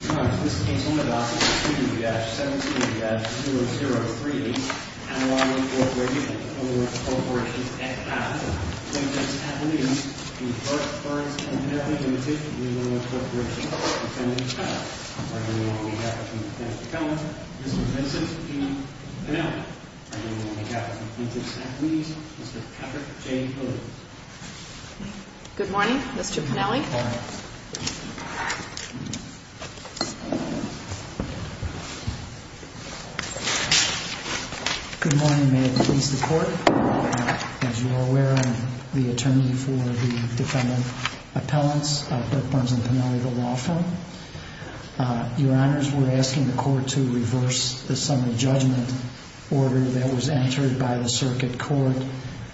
Good morning, this is Case 1-17-003. I'm a law enforcement agent with the Illinois Corporation. And I'm the plaintiff's attorney v. Burke Burns & Pinelli Ltd. of the Illinois Corporation. I'm attending trial. I'm arguing on behalf of Chief Justice Collins, Mr. Vincent E. Pinelli. I'm arguing on behalf of the plaintiff's attorneys, Mr. Patrick J. Williams. Good morning, Mr. Pinelli. Good morning. Good morning, may it please the Court. As you are aware, I'm the attorney for the defendant appellants of Burke Burns & Pinelli, the law firm. Your Honors, we're asking the Court to reverse the summary judgment order that was entered by the Circuit Court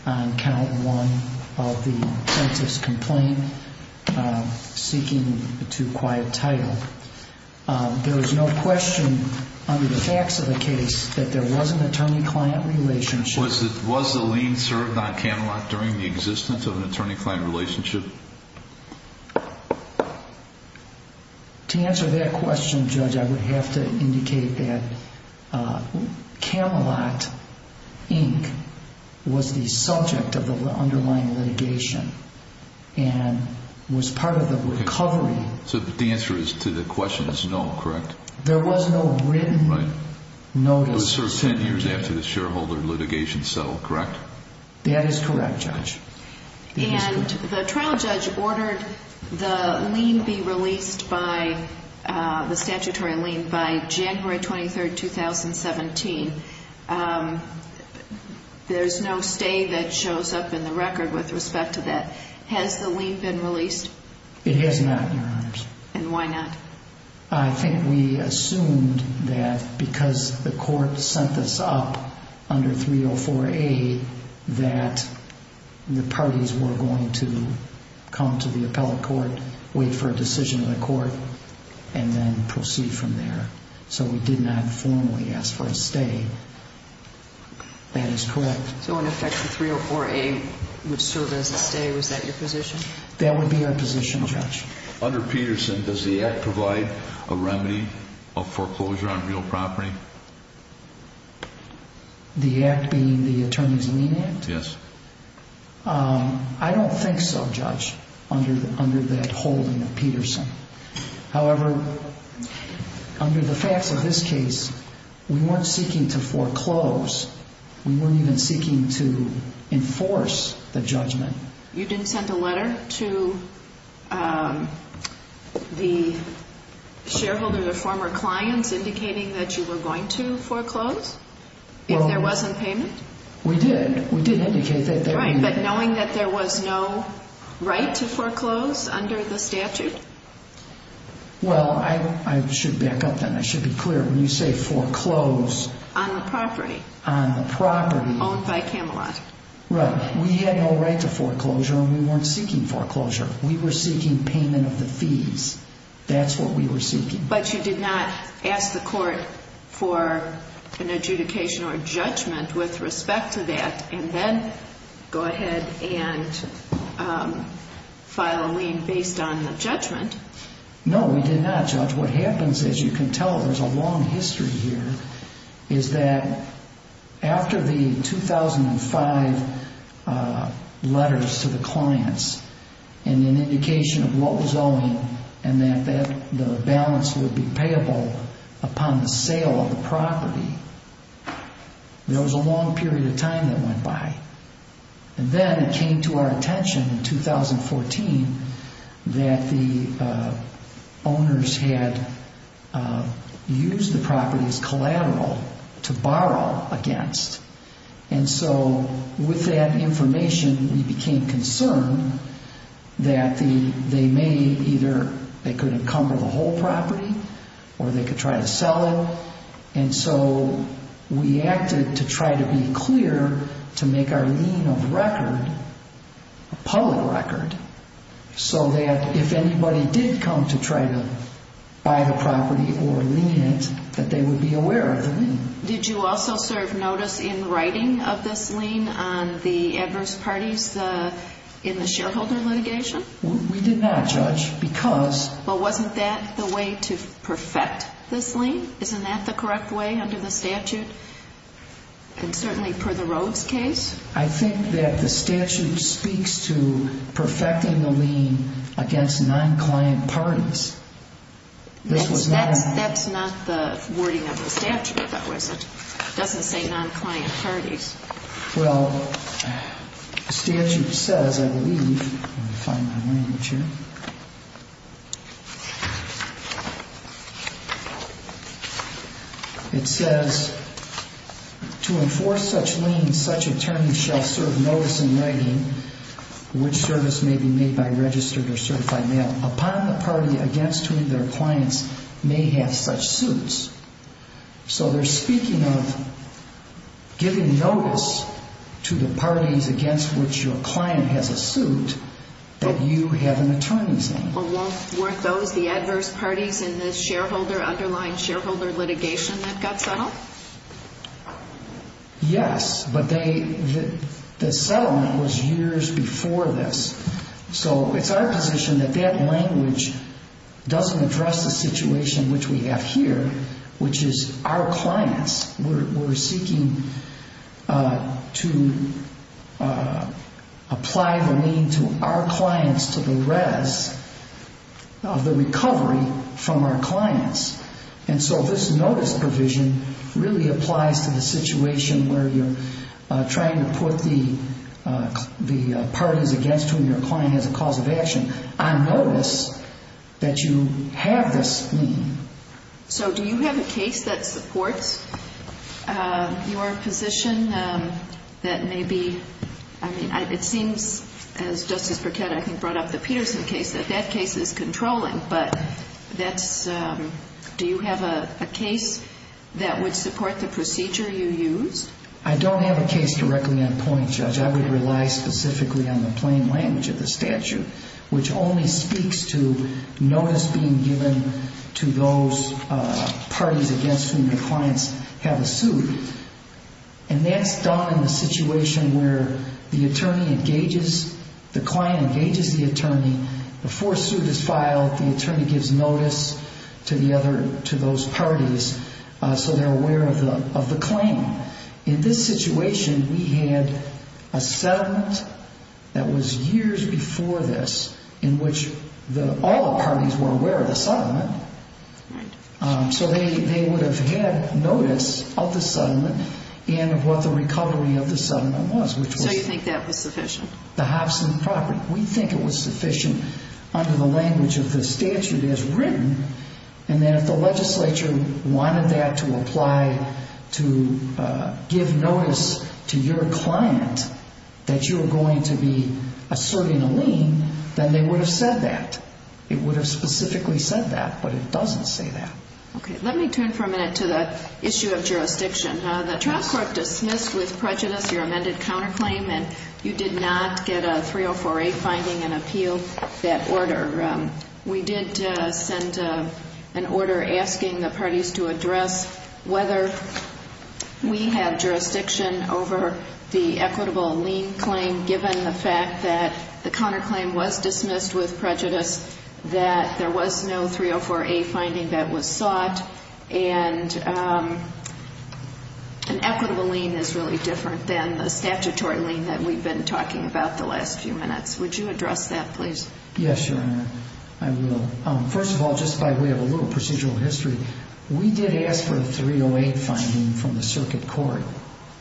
on Count 1 of the plaintiff's complaint seeking a too quiet title. There is no question under the facts of the case that there was an attorney-client relationship. Was the lien served on Camelot during the existence of an attorney-client relationship? To answer that question, Judge, I would have to indicate that Camelot, Inc. was the subject of the underlying litigation. And was part of the recovery. So the answer to the question is no, correct? There was no written notice. It was served 10 years after the shareholder litigation settled, correct? That is correct, Judge. And the trial judge ordered the lien be released by the statutory lien by January 23, 2017. There's no stay that shows up in the record with respect to that. Has the lien been released? It has not, Your Honors. And why not? I think we assumed that because the Court sent this up under 304A that the parties were going to come to the appellate court, wait for a decision in the court, and then proceed from there. So we did not formally ask for a stay. That is correct. So in effect, the 304A would serve as a stay. Was that your position? That would be our position, Judge. Under Peterson, does the Act provide a remedy of foreclosure on real property? The Act being the Attorney's Lien Act? Yes. I don't think so, Judge, under that holding of Peterson. However, under the facts of this case, we weren't seeking to foreclose. We weren't even seeking to enforce the judgment. You didn't send a letter to the shareholder, the former clients, indicating that you were going to foreclose if there wasn't payment? We did. We did indicate that there would be. Right, but knowing that there was no right to foreclose under the statute? Well, I should back up then. I should be clear. When you say foreclose... On the property. On the property. Owned by Camelot. Right. We had no right to foreclosure, and we weren't seeking foreclosure. We were seeking payment of the fees. That's what we were seeking. But you did not ask the court for an adjudication or a judgment with respect to that, and then go ahead and file a lien based on the judgment? No, we did not, Judge. What happens, as you can tell, there's a long history here, is that after the 2005 letters to the clients and an indication of what was owing and that the balance would be payable upon the sale of the property, there was a long period of time that went by. And then it came to our attention in 2014 that the owners had used the property as collateral to borrow against. And so with that information, we became concerned that they may either, they could encumber the whole property or they could try to sell it. And so we acted to try to be clear to make our lien a record, a public record, so that if anybody did come to try to buy the property or lien it, that they would be aware of the lien. Did you also serve notice in writing of this lien on the adverse parties in the shareholder litigation? We did not, Judge, because... Well, wasn't that the way to perfect this lien? Isn't that the correct way under the statute? And certainly per the Rhoades case? I think that the statute speaks to perfecting the lien against non-client parties. That's not the wording of the statute, though, is it? It doesn't say non-client parties. Well, the statute says, I believe, let me find my language here. It says, to enforce such liens, such attorneys shall serve notice in writing which service may be made by registered or certified mail upon the party against whom their clients may have such suits. So they're speaking of giving notice to the parties against which your client has a suit that you have an attorneyship. Weren't those the adverse parties in the underlying shareholder litigation that got settled? Yes, but the settlement was years before this. So it's our position that that language doesn't address the situation which we have here, which is our clients. We're seeking to apply the lien to our clients, to the res of the recovery from our clients. And so this notice provision really applies to the situation where you're trying to put the parties against whom your client has a cause of action on notice that you have this lien. So do you have a case that supports your position that maybe, I mean, it seems, as Justice Burkett, I think, brought up the Peterson case, that that case is controlling, but do you have a case that would support the procedure you used? I don't have a case directly on point, Judge. I would rely specifically on the plain language of the statute, which only speaks to notice being given to those parties against whom your clients have a suit. And that's done in the situation where the client engages the attorney. Before a suit is filed, the attorney gives notice to those parties so they're aware of the claim. In this situation, we had a settlement that was years before this in which all the parties were aware of the settlement. So they would have had notice of the settlement and of what the recovery of the settlement was. So you think that was sufficient? The Hobson property. We think it was sufficient under the language of the statute as written. And if the legislature wanted that to apply to give notice to your client that you were going to be asserting a lien, then they would have said that. It would have specifically said that, but it doesn't say that. Okay, let me turn for a minute to the issue of jurisdiction. The trial court dismissed with prejudice your amended counterclaim, and you did not get a 304A finding and appeal that order. We did send an order asking the parties to address whether we have jurisdiction over the equitable lien claim given the fact that the counterclaim was dismissed with prejudice, that there was no 304A finding that was sought, and an equitable lien is really different than the statutory lien that we've been talking about the last few minutes. Would you address that, please? Yes, Your Honor, I will. First of all, just by way of a little procedural history, we did ask for a 308 finding from the circuit court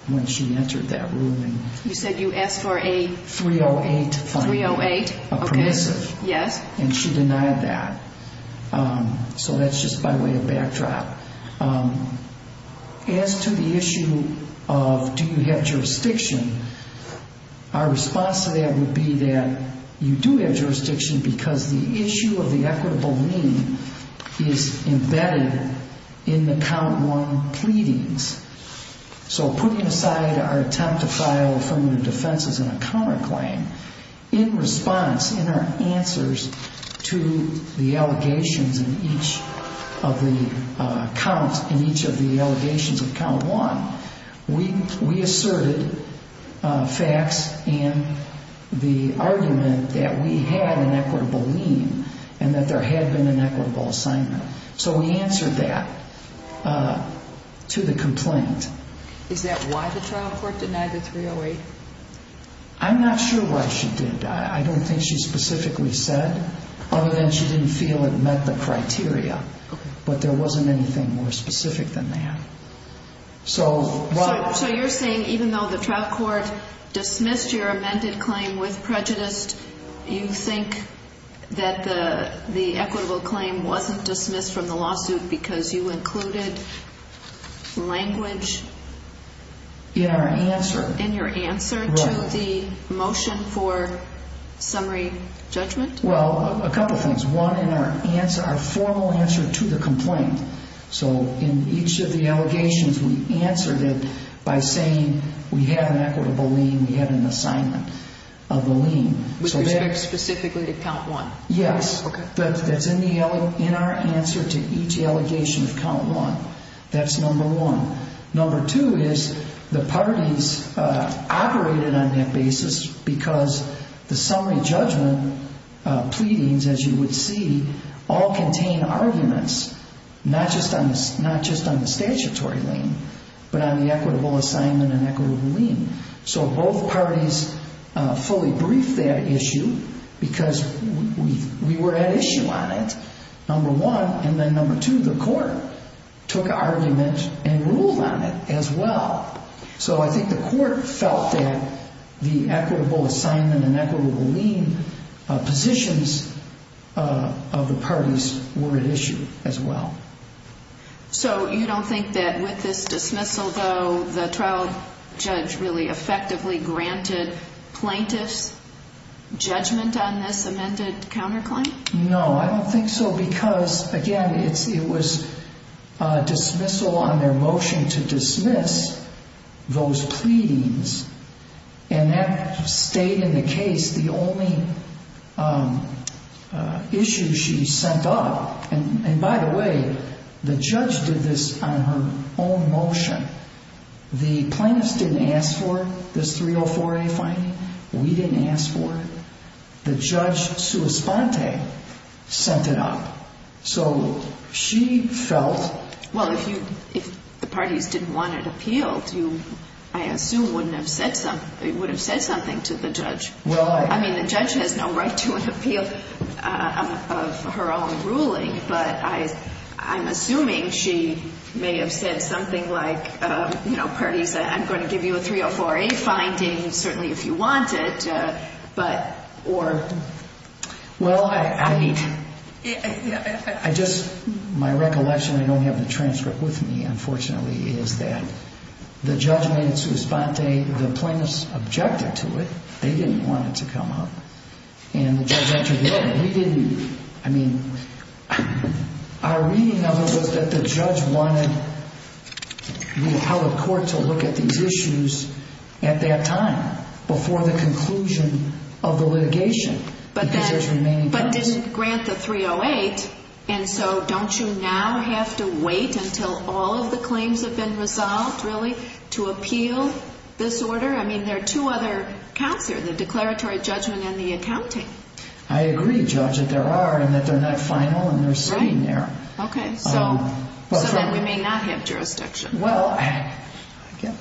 when she entered that room. You said you asked for a... 308 finding. 308, okay. A permissive. Yes. And she denied that. So that's just by way of backdrop. As to the issue of do you have jurisdiction, our response to that would be that you do have jurisdiction because the issue of the equitable lien is embedded in the count one pleadings. So putting aside our attempt to file affirmative defenses in a counterclaim, in response, in our answers to the allegations in each of the counts, in each of the allegations of count one, we asserted facts and the argument that we had an equitable lien and that there had been an equitable assignment. So we answered that to the complaint. Is that why the trial court denied the 308? I'm not sure why she did. I don't think she specifically said, other than she didn't feel it met the criteria. Okay. But there wasn't anything more specific than that. So while... So you're saying even though the trial court dismissed your amended claim with prejudice, you think that the equitable claim wasn't dismissed from the lawsuit because you included language... In our answer. In your answer to the motion for summary judgment? Well, a couple things. One, in our answer, our formal answer to the complaint. So in each of the allegations, we answered it by saying we had an equitable lien, we had an assignment of the lien. Which was very specifically to count one. Yes. That's in our answer to each allegation of count one. That's number one. Number two is the parties operated on that basis because the summary judgment pleadings, as you would see, all contain arguments, not just on the statutory lien, but on the equitable assignment and equitable lien. So both parties fully briefed that issue because we were at issue on it, number one. And then number two, the court took argument and ruled on it as well. So I think the court felt that the equitable assignment and equitable lien positions of the parties were at issue as well. So you don't think that with this dismissal, though, the trial judge really effectively granted plaintiffs judgment on this amended counterclaim? No, I don't think so because, again, it was dismissal on their motion to dismiss those pleadings. And that stayed in the case. The only issue she sent up, and by the way, the judge did this on her own motion. The plaintiffs didn't ask for this 304A finding. We didn't ask for it. The judge, sua sponte, sent it up. So she felt... Well, if the parties didn't want it appealed, I assume it would have said something to the judge. I mean, the judge has no right to an appeal of her own ruling, but I'm assuming she may have said something like, you know, parties, I'm going to give you a 304A finding, certainly if you want it, but... Well, I mean, I just... My recollection, I don't have the transcript with me, unfortunately, is that the judge made it sua sponte. The plaintiffs objected to it. They didn't want it to come up. And the judge entered the open. We didn't... I mean, our reading of it was that the judge wanted the appellate court to look at these issues at that time, before the conclusion of the litigation. But didn't grant the 308, and so don't you now have to wait until all of the claims have been resolved, really, to appeal this order? I mean, there are two other counts here, the declaratory judgment and the accounting. I agree, Judge, that there are, and that they're not final and they're sitting there. Okay, so then we may not have jurisdiction. Well,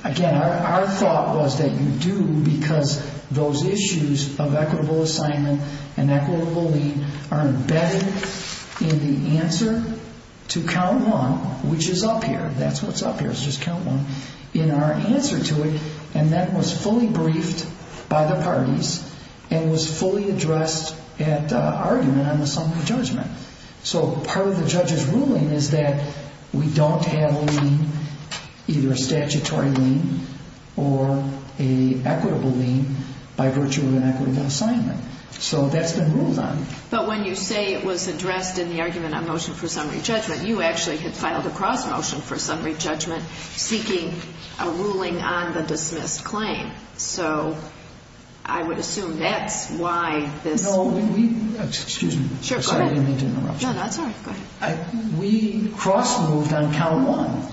again, our thought was that you do because those issues of equitable assignment and equitable lien are embedded in the answer to count one, which is up here, that's what's up here, it's just count one, in our answer to it, and that was fully briefed by the parties and was fully addressed at argument on the sum of the judgment. So part of the judge's ruling is that we don't have a lien, either a statutory lien or an equitable lien, by virtue of an equitable assignment. So that's been ruled on. But when you say it was addressed in the argument on motion for summary judgment, you actually had filed a cross-motion for summary judgment seeking a ruling on the dismissed claim. So I would assume that's why this... Excuse me. Sure, go ahead. No, that's all right. We cross-moved on count one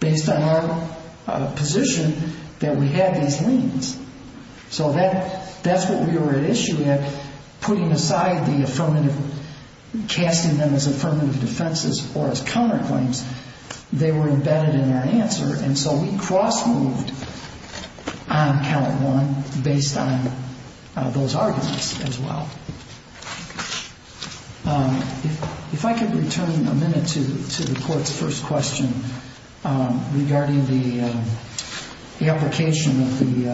based on our position that we had these liens. So that's what we were at issue with, putting aside the affirmative, casting them as affirmative defenses or as counterclaims. They were embedded in our answer, and so we cross-moved on count one based on those arguments as well. If I could return a minute to the Court's first question regarding the application of the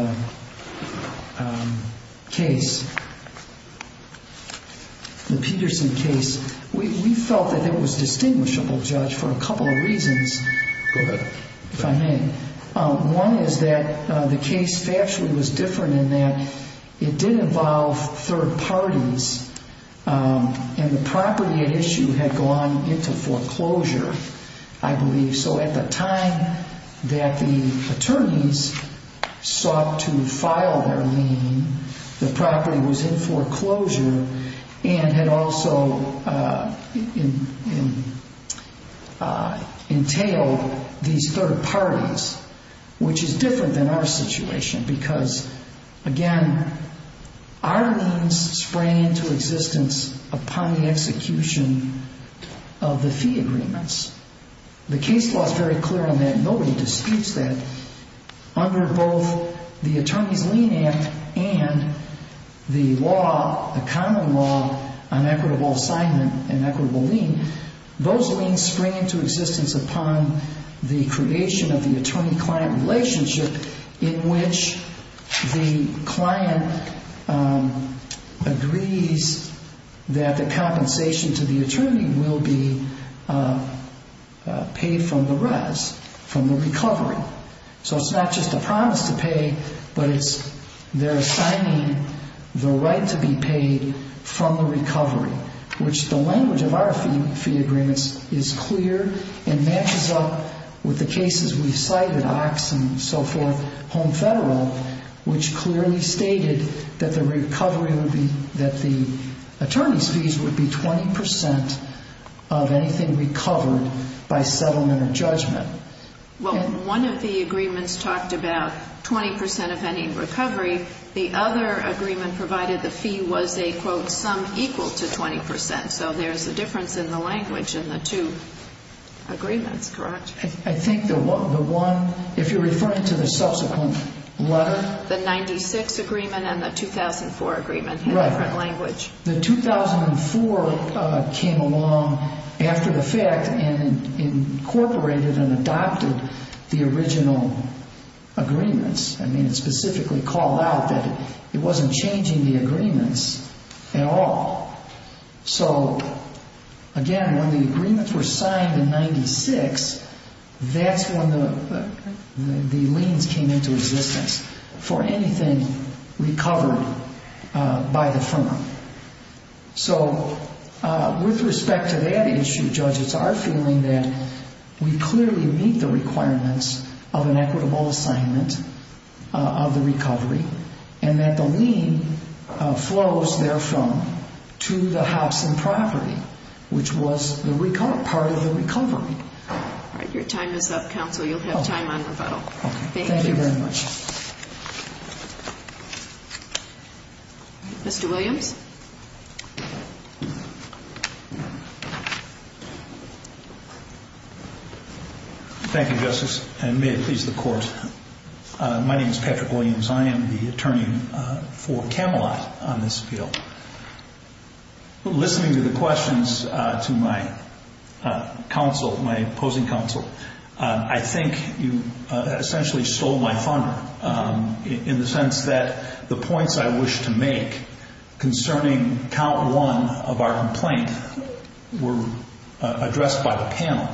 case, the Peterson case. We felt that it was distinguishable, Judge, for a couple of reasons, if I may. One is that the case factually was different in that it did involve third parties, and the property at issue had gone into foreclosure, I believe. So at the time that the attorneys sought to file their lien, the property was in foreclosure and had also entailed these third parties, which is different than our situation because, again, our liens sprang into existence upon the execution of the fee agreements. The case law is very clear on that. Nobody disputes that. Under both the Attorney's Lien Act and the law, the common law, on equitable assignment and equitable lien, those liens spring into existence upon the creation of the attorney-client relationship in which the client agrees that the compensation to the attorney will be paid from the res, from the recovery. So it's not just a promise to pay, but they're assigning the right to be paid from the recovery, which the language of our fee agreements is clear and matches up with the cases we've cited, OX and so forth, Home Federal, which clearly stated that the attorney's fees by settlement or judgment. Well, one of the agreements talked about 20% of any recovery. The other agreement provided the fee was a, quote, sum equal to 20%, so there's a difference in the language in the two agreements, correct? I think the one, if you're referring to the subsequent letter. The 96 agreement and the 2004 agreement had a different language. The 2004 came along after the fact and incorporated and adopted the original agreements. I mean, it specifically called out that it wasn't changing the agreements at all. So, again, when the agreements were signed in 96, that's when the liens came into existence for anything recovered by the firm. So, with respect to that issue, judges are feeling that we clearly meet the requirements of an equitable assignment of the recovery and that the lien flows, therefore, to the Hobson property, which was part of the recovery. All right, your time is up, counsel. You'll have time on rebuttal. Thank you. Thank you very much. Mr. Williams. Thank you, Justice, and may it please the Court. My name is Patrick Williams. I am the attorney for Camelot on this appeal. Listening to the questions to my counsel, my opposing counsel, I think you essentially stole my thunder in the sense that the points I wish to make concerning count one of our complaint were addressed by the panel.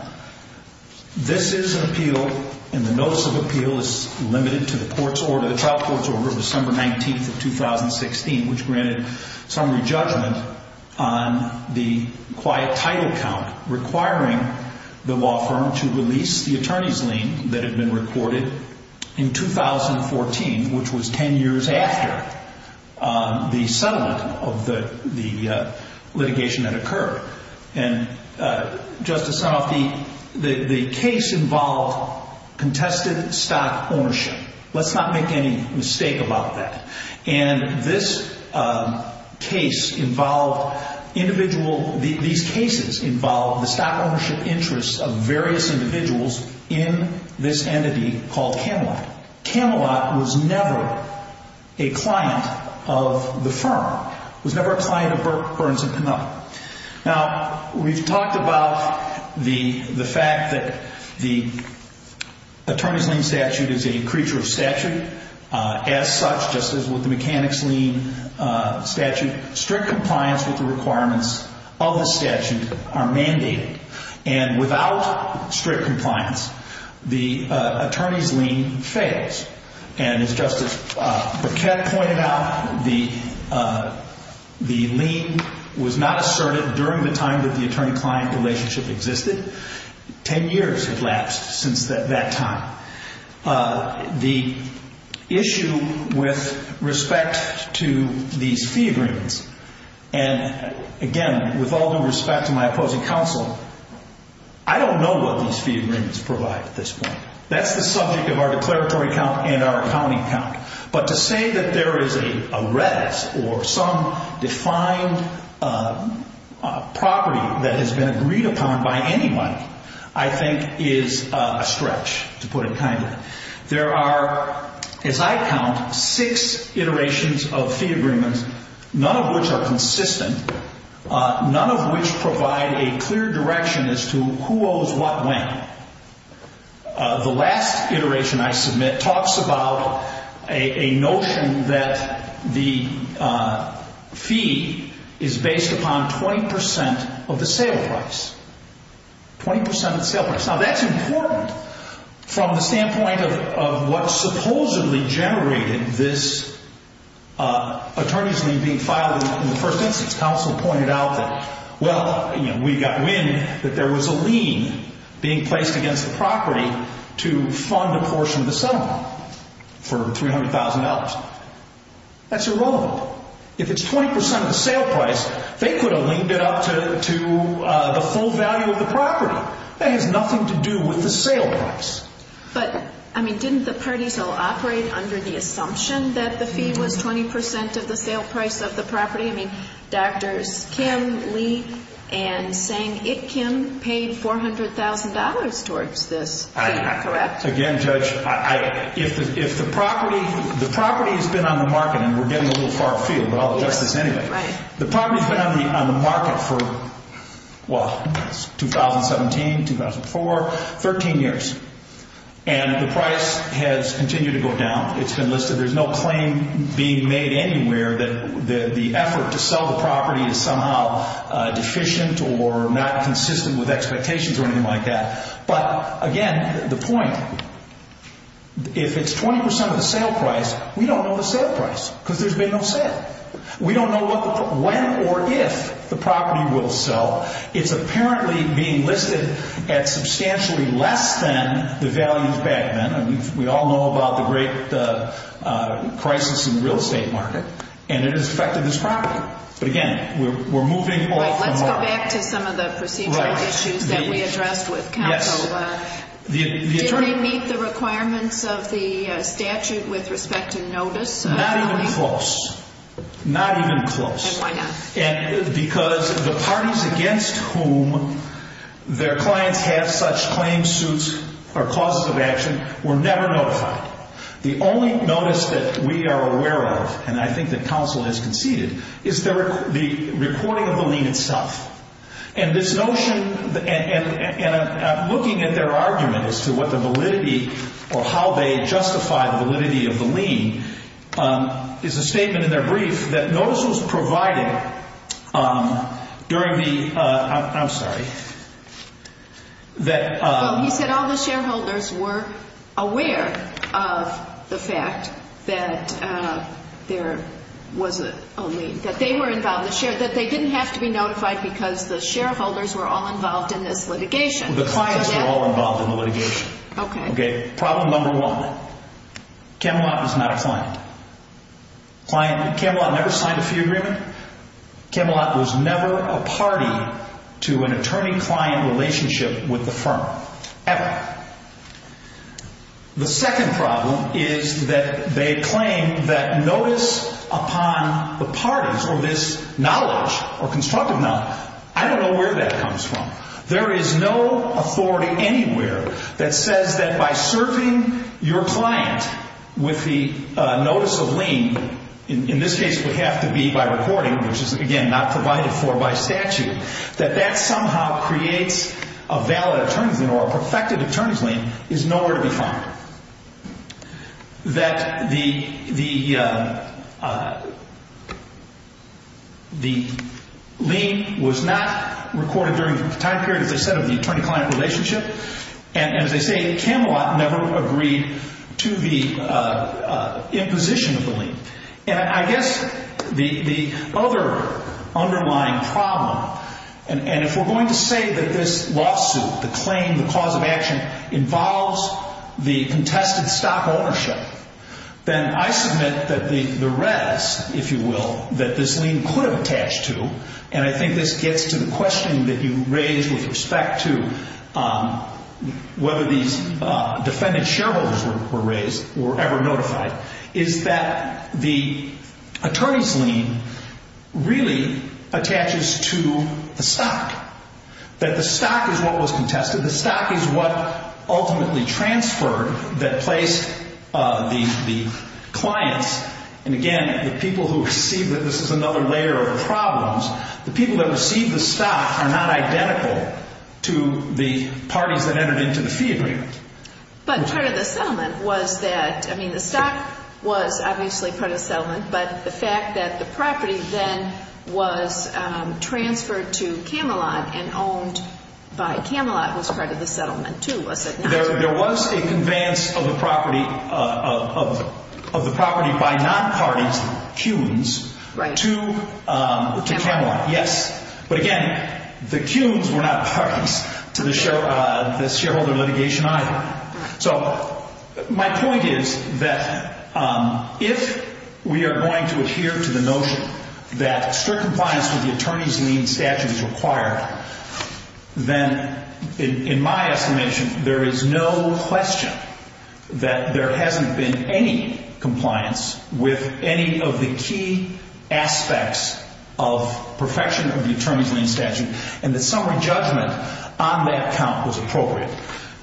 This is an appeal, and the notice of appeal is limited to the trial court's order of December 19th of 2016, which granted summary judgment on the quiet title count requiring the law firm to release the attorney's lien that had been recorded in 2014, which was 10 years after the settlement of the litigation that occurred. And, Justice Sunoff, the case involved contested stock ownership. Let's not make any mistake about that. And this case involved individual... These cases involved the stock ownership interests of various individuals in this entity called Camelot. Camelot was never a client of the firm, was never a client of Burns & Canuck. Now, we've talked about the fact that the attorney's lien statute is a creature of statute. As such, just as with the mechanic's lien statute, strict compliance with the requirements of the statute are mandated. And without strict compliance, the attorney's lien fails. And as Justice Paquette pointed out, the lien was not asserted during the time that the attorney-client relationship existed. Ten years had lapsed since that time. The issue with respect to these fee agreements, and again, with all due respect to my opposing counsel, I don't know what these fee agreements provide at this point. That's the subject of our declaratory count and our accounting count. But to say that there is a res, or some defined property that has been agreed upon by anybody, I think is a stretch, to put it kindly. There are, as I count, six iterations of fee agreements, none of which are consistent, none of which provide a clear direction as to who owes what when. The last iteration I submit talks about a notion that the fee is based upon 20% of the sale price. 20% of the sale price. Now, that's important from the standpoint of what supposedly generated this attorney's lien being filed. In the first instance, counsel pointed out that, well, we got wind that there was a lien being placed against the property to fund a portion of the settlement for $300,000. That's irrelevant. If it's 20% of the sale price, they could have linked it up to the full value of the property. That has nothing to do with the sale price. But, I mean, didn't the parties all operate under the assumption that the fee was 20% of the sale price of the property? I mean, Drs. Kim, Lee, and Tseng, it Kim, paid $400,000 towards this fee, correct? Again, Judge, if the property has been on the market, and we're getting a little far afield, but I'll address this anyway. The property has been on the market for, well, 2017, 2004, 13 years. And the price has continued to go down. It's been listed. There's no claim being made anywhere that the effort to sell the property is somehow deficient or not consistent with expectations or anything like that. But, again, the point, if it's 20% of the sale price, we don't know the sale price because there's been no sale. We don't know when or if the property will sell. It's apparently being listed at substantially less than the values back then. We all know about the great crisis in the real estate market, and it has affected this property. But, again, we're moving off the mark. Let's go back to some of the procedural issues that we addressed with counsel. Did they meet the requirements of the statute with respect to notice? Not even close. Not even close. And why not? Because the parties against whom their clients have such claims suits or causes of action were never notified. The only notice that we are aware of, and I think that counsel has conceded, is the recording of the lien itself. And this notion, and looking at their argument as to what the validity or how they justify the validity of the lien, is a statement in their brief that notice was provided during the, I'm sorry, that... Well, he said all the shareholders were aware of the fact that there was a lien, that they were involved, that they didn't have to be notified because the shareholders were all involved in this litigation. The clients were all involved in the litigation. Okay. Problem number one, Camelot was not a client. Camelot never signed a fee agreement. Camelot was never a party to an attorney-client relationship with the firm, ever. The second problem is that they claim that notice upon the parties, or this knowledge, or constructive knowledge, I don't know where that comes from. There is no authority anywhere that says that by serving your client with the notice of lien, in this case it would have to be by recording, which is, again, not provided for by statute, that that somehow creates a valid attorney's lien or a perfected attorney's lien, is nowhere to be found. That the lien was not recorded during the time period, as I said, of the attorney-client relationship. And as I say, Camelot never agreed to the imposition of the lien. And I guess the other underlying problem, and if we're going to say that this lawsuit, the claim, the cause of action, involves the contested stock ownership, then I submit that the res, if you will, that this lien could have attached to, and I think this gets to the question that you raised with respect to whether these defendant shareholders were raised or ever notified, is that the attorney's lien really attaches to the stock. That the stock is what was contested, the stock is what ultimately transferred, that placed the clients, and again, the people who received it, this is another layer of problems, the people that received the stock are not identical to the parties that entered into the fee agreement. But part of the settlement was that, I mean, the stock was obviously part of the settlement, but the fact that the property then was transferred to Camelot and owned by Camelot was part of the settlement too, was it not? There was a conveyance of the property by non-parties, the Kuhns, to Camelot, yes. But again, the Kuhns were not parties to the shareholder litigation either. So my point is that if we are going to adhere to the notion that strict compliance with the attorney's lien statute is required, then in my estimation, there is no question that there hasn't been any compliance with any of the key aspects of perfection of the attorney's lien statute, and the summary judgment on that count was appropriate.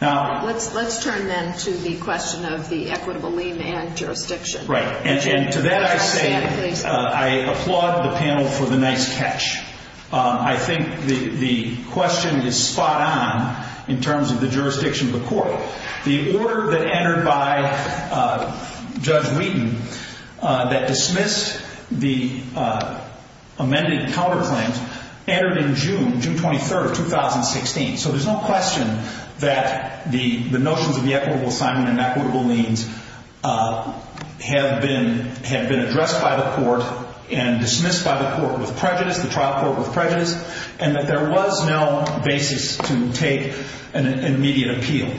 Let's turn then to the question of the equitable lien and jurisdiction. Right, and to that I say I applaud the panel for the nice catch. I think the question is spot on in terms of the jurisdiction of the court. The order that entered by Judge Wheaton that dismissed the amended counterclaims entered in June, June 23rd of 2016. So there's no question that the notions of the equitable assignment and equitable liens have been addressed by the court and dismissed by the court with prejudice, the trial court with prejudice, and that there was no basis to take an immediate appeal.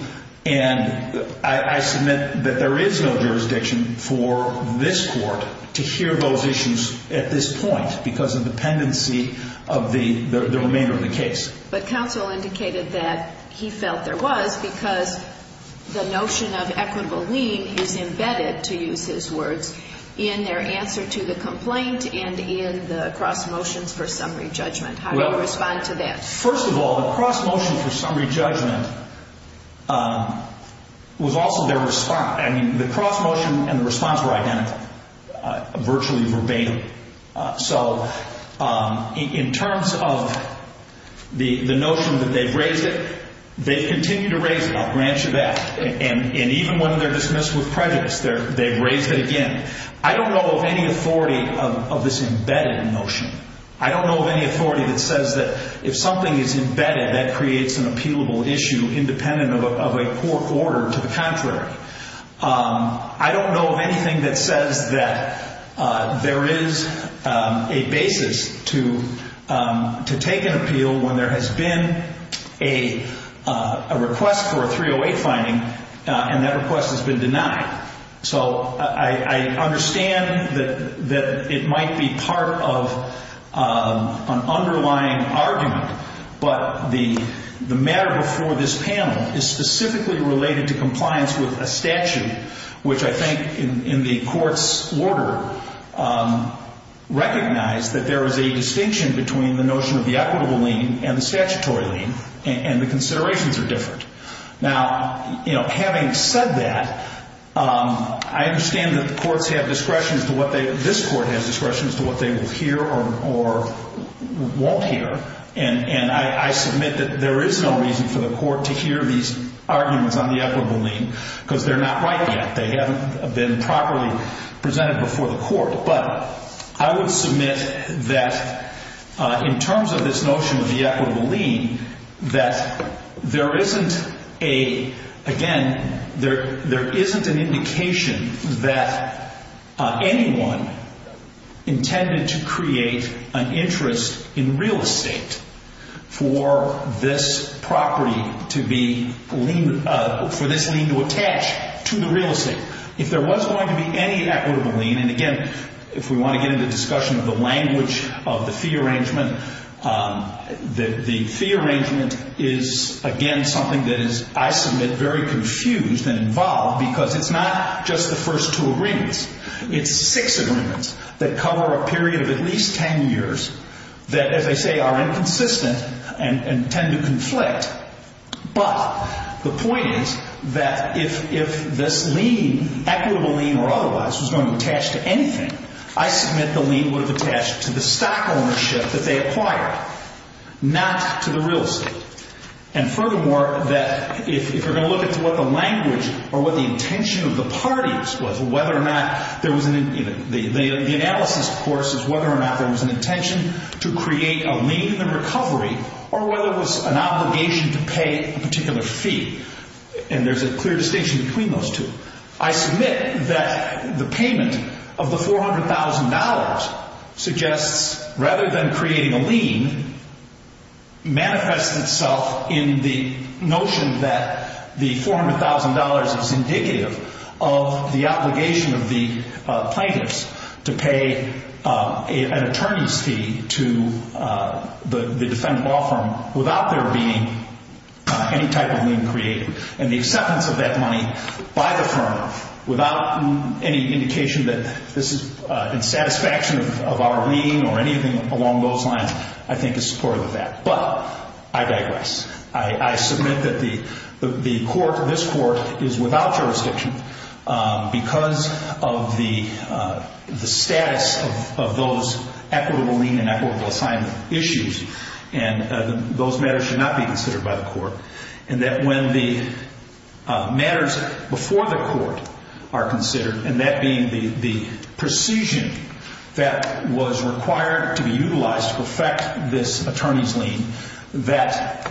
And I submit that there is no jurisdiction for this court to hear those issues at this point because of dependency of the remainder of the case. But counsel indicated that he felt there was because the notion of equitable lien is embedded, to use his words, in their answer to the complaint and in the cross motions for summary judgment. How do you respond to that? First of all, the cross motion for summary judgment was also their response. I mean, the cross motion and the response were identical, virtually verbatim. So in terms of the notion that they've raised it, they've continued to raise it. I'll grant you that. And even when they're dismissed with prejudice, they've raised it again. I don't know of any authority of this embedded notion. I don't know of any authority that says that if something is embedded, that creates an appealable issue independent of a court order. To the contrary. I don't know of anything that says that there is a basis to take an appeal when there has been a request for a 308 finding and that request has been denied. So I understand that it might be part of an underlying argument. But the matter before this panel is specifically related to compliance with a statute, which I think in the court's order recognized that there is a distinction between the notion of the equitable lien and the statutory lien, and the considerations are different. Now, having said that, I understand that the courts have discretion, this court has discretion as to what they will hear or won't hear. And I submit that there is no reason for the court to hear these arguments on the equitable lien because they're not right yet. They haven't been properly presented before the court. But I would submit that in terms of this notion of the equitable lien, that there isn't a, again, there isn't an indication that anyone intended to create an interest in real estate for this property to be, for this lien to attach to the real estate. If there was going to be any equitable lien, and again, if we want to get into discussion of the language of the fee arrangement, the fee arrangement is, again, something that is, I submit, very confused and involved because it's not just the first two agreements. It's six agreements that cover a period of at least 10 years that, as I say, are inconsistent and tend to conflict. But the point is that if this lien, equitable lien or otherwise, was going to attach to anything, I submit the lien would have attached to the stock ownership that they acquired, not to the real estate. And furthermore, that if you're going to look at what the language or what the intention of the parties was, whether or not there was an, the analysis, of course, is whether or not there was an intention to create a lien in recovery or whether it was an obligation to pay a particular fee. And there's a clear distinction between those two. I submit that the payment of the $400,000 suggests, rather than creating a lien, manifests itself in the notion that the $400,000 is indicative of the obligation of the plaintiffs to pay an attorney's fee to the defendant law firm without there being any type of lien created. And the acceptance of that money by the firm without any indication that this is satisfaction of our lien or anything along those lines, I think is supportive of that. But I digress. I submit that the court, this court, is without jurisdiction because of the status of those equitable lien and equitable assignment issues. And those matters should not be considered by the court. And that when the matters before the court are considered, and that being the precision that was required to be utilized to perfect this attorney's lien, that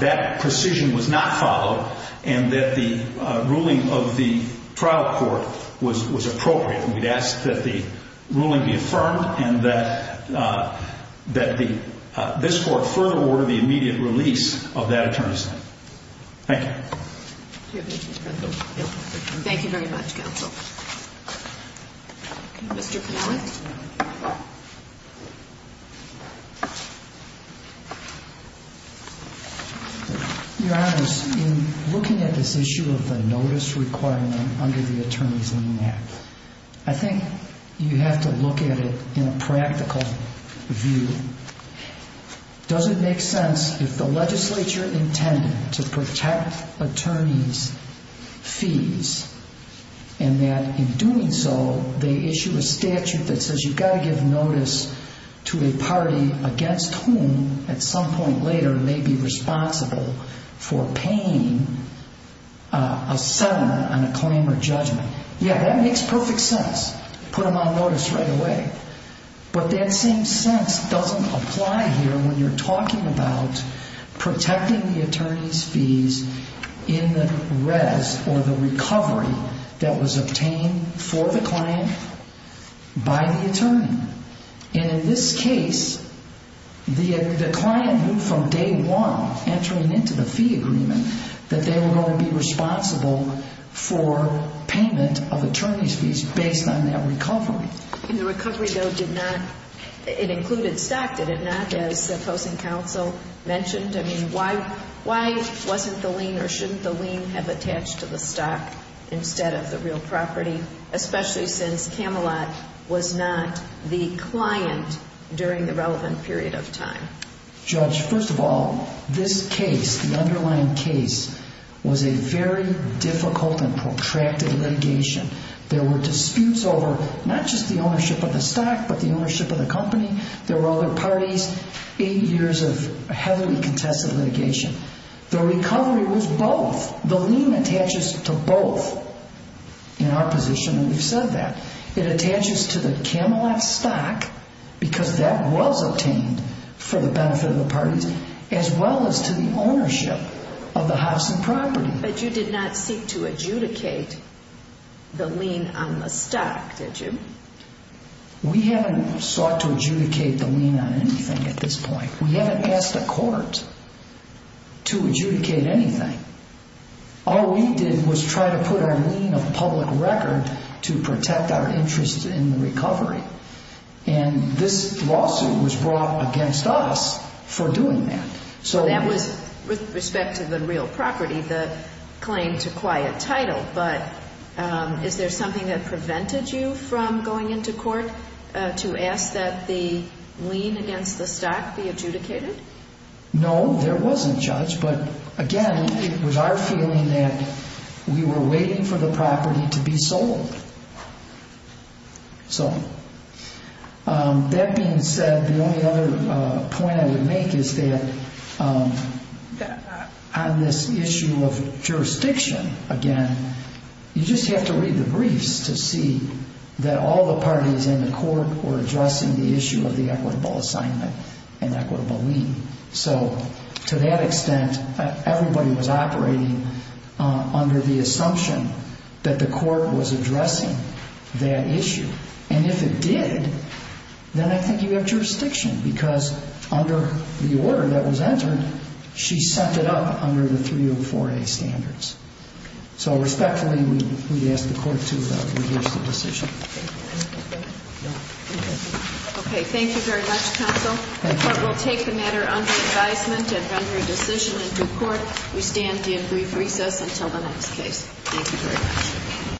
that precision was not followed and that the ruling of the trial court was appropriate. We'd ask that the ruling be affirmed and that this court further order the immediate release of that attorney's lien. Thank you. Thank you very much, counsel. Mr. Pinoweth. Your Honor, in looking at this issue of the notice requirement under the Attorney's Lien Act, I think you have to look at it in a practical view. Does it make sense if the legislature intended to protect attorneys' fees and that in doing so, they issue a statute that says you've got to give notice to a party against whom at some point later may be responsible for paying a settlement on a claim or judgment. Yeah, that makes perfect sense. Put them on notice right away. But that same sense doesn't apply here when you're talking about protecting the attorney's fees in the res or the recovery that was obtained for the client by the attorney. And in this case, the client knew from day one, entering into the fee agreement, that they were going to be responsible for payment of attorney's fees based on that recovery. And the recovery, though, did not, it included stock, did it not, as opposing counsel mentioned? I mean, why wasn't the lien or shouldn't the lien have attached to the stock instead of the real property, especially since Camelot was not the client during the relevant period of time? Judge, first of all, this case, the underlying case, was a very difficult and protracted litigation. There were disputes over not just the ownership of the stock but the ownership of the company. There were other parties. Eight years of heavily contested litigation. The recovery was both. The lien attaches to both in our position, and we've said that. It attaches to the Camelot stock because that was obtained for the benefit of the parties as well as to the ownership of the Hobson property. But you did not seek to adjudicate the lien on the stock, did you? We haven't sought to adjudicate the lien on anything at this point. We haven't asked the court to adjudicate anything. All we did was try to put our lien of public record to protect our interest in the recovery, and this lawsuit was brought against us for doing that. So that was with respect to the real property, the claim to quiet title. But is there something that prevented you from going into court to ask that the lien against the stock be adjudicated? No, there wasn't, Judge. But again, it was our feeling that we were waiting for the property to be sold. So that being said, the only other point I would make is that on this issue of jurisdiction, again, you just have to read the briefs to see that all the parties in the court were addressing the issue of the equitable assignment and equitable lien. So to that extent, everybody was operating under the assumption that the court was addressing that issue. And if it did, then I think you have jurisdiction, because under the order that was entered, she set it up under the 304A standards. So respectfully, we ask the court to reverse the decision. Okay, thank you very much, counsel. The court will take the matter under advisement and render a decision into court. We stand in brief recess until the next case. Thank you very much.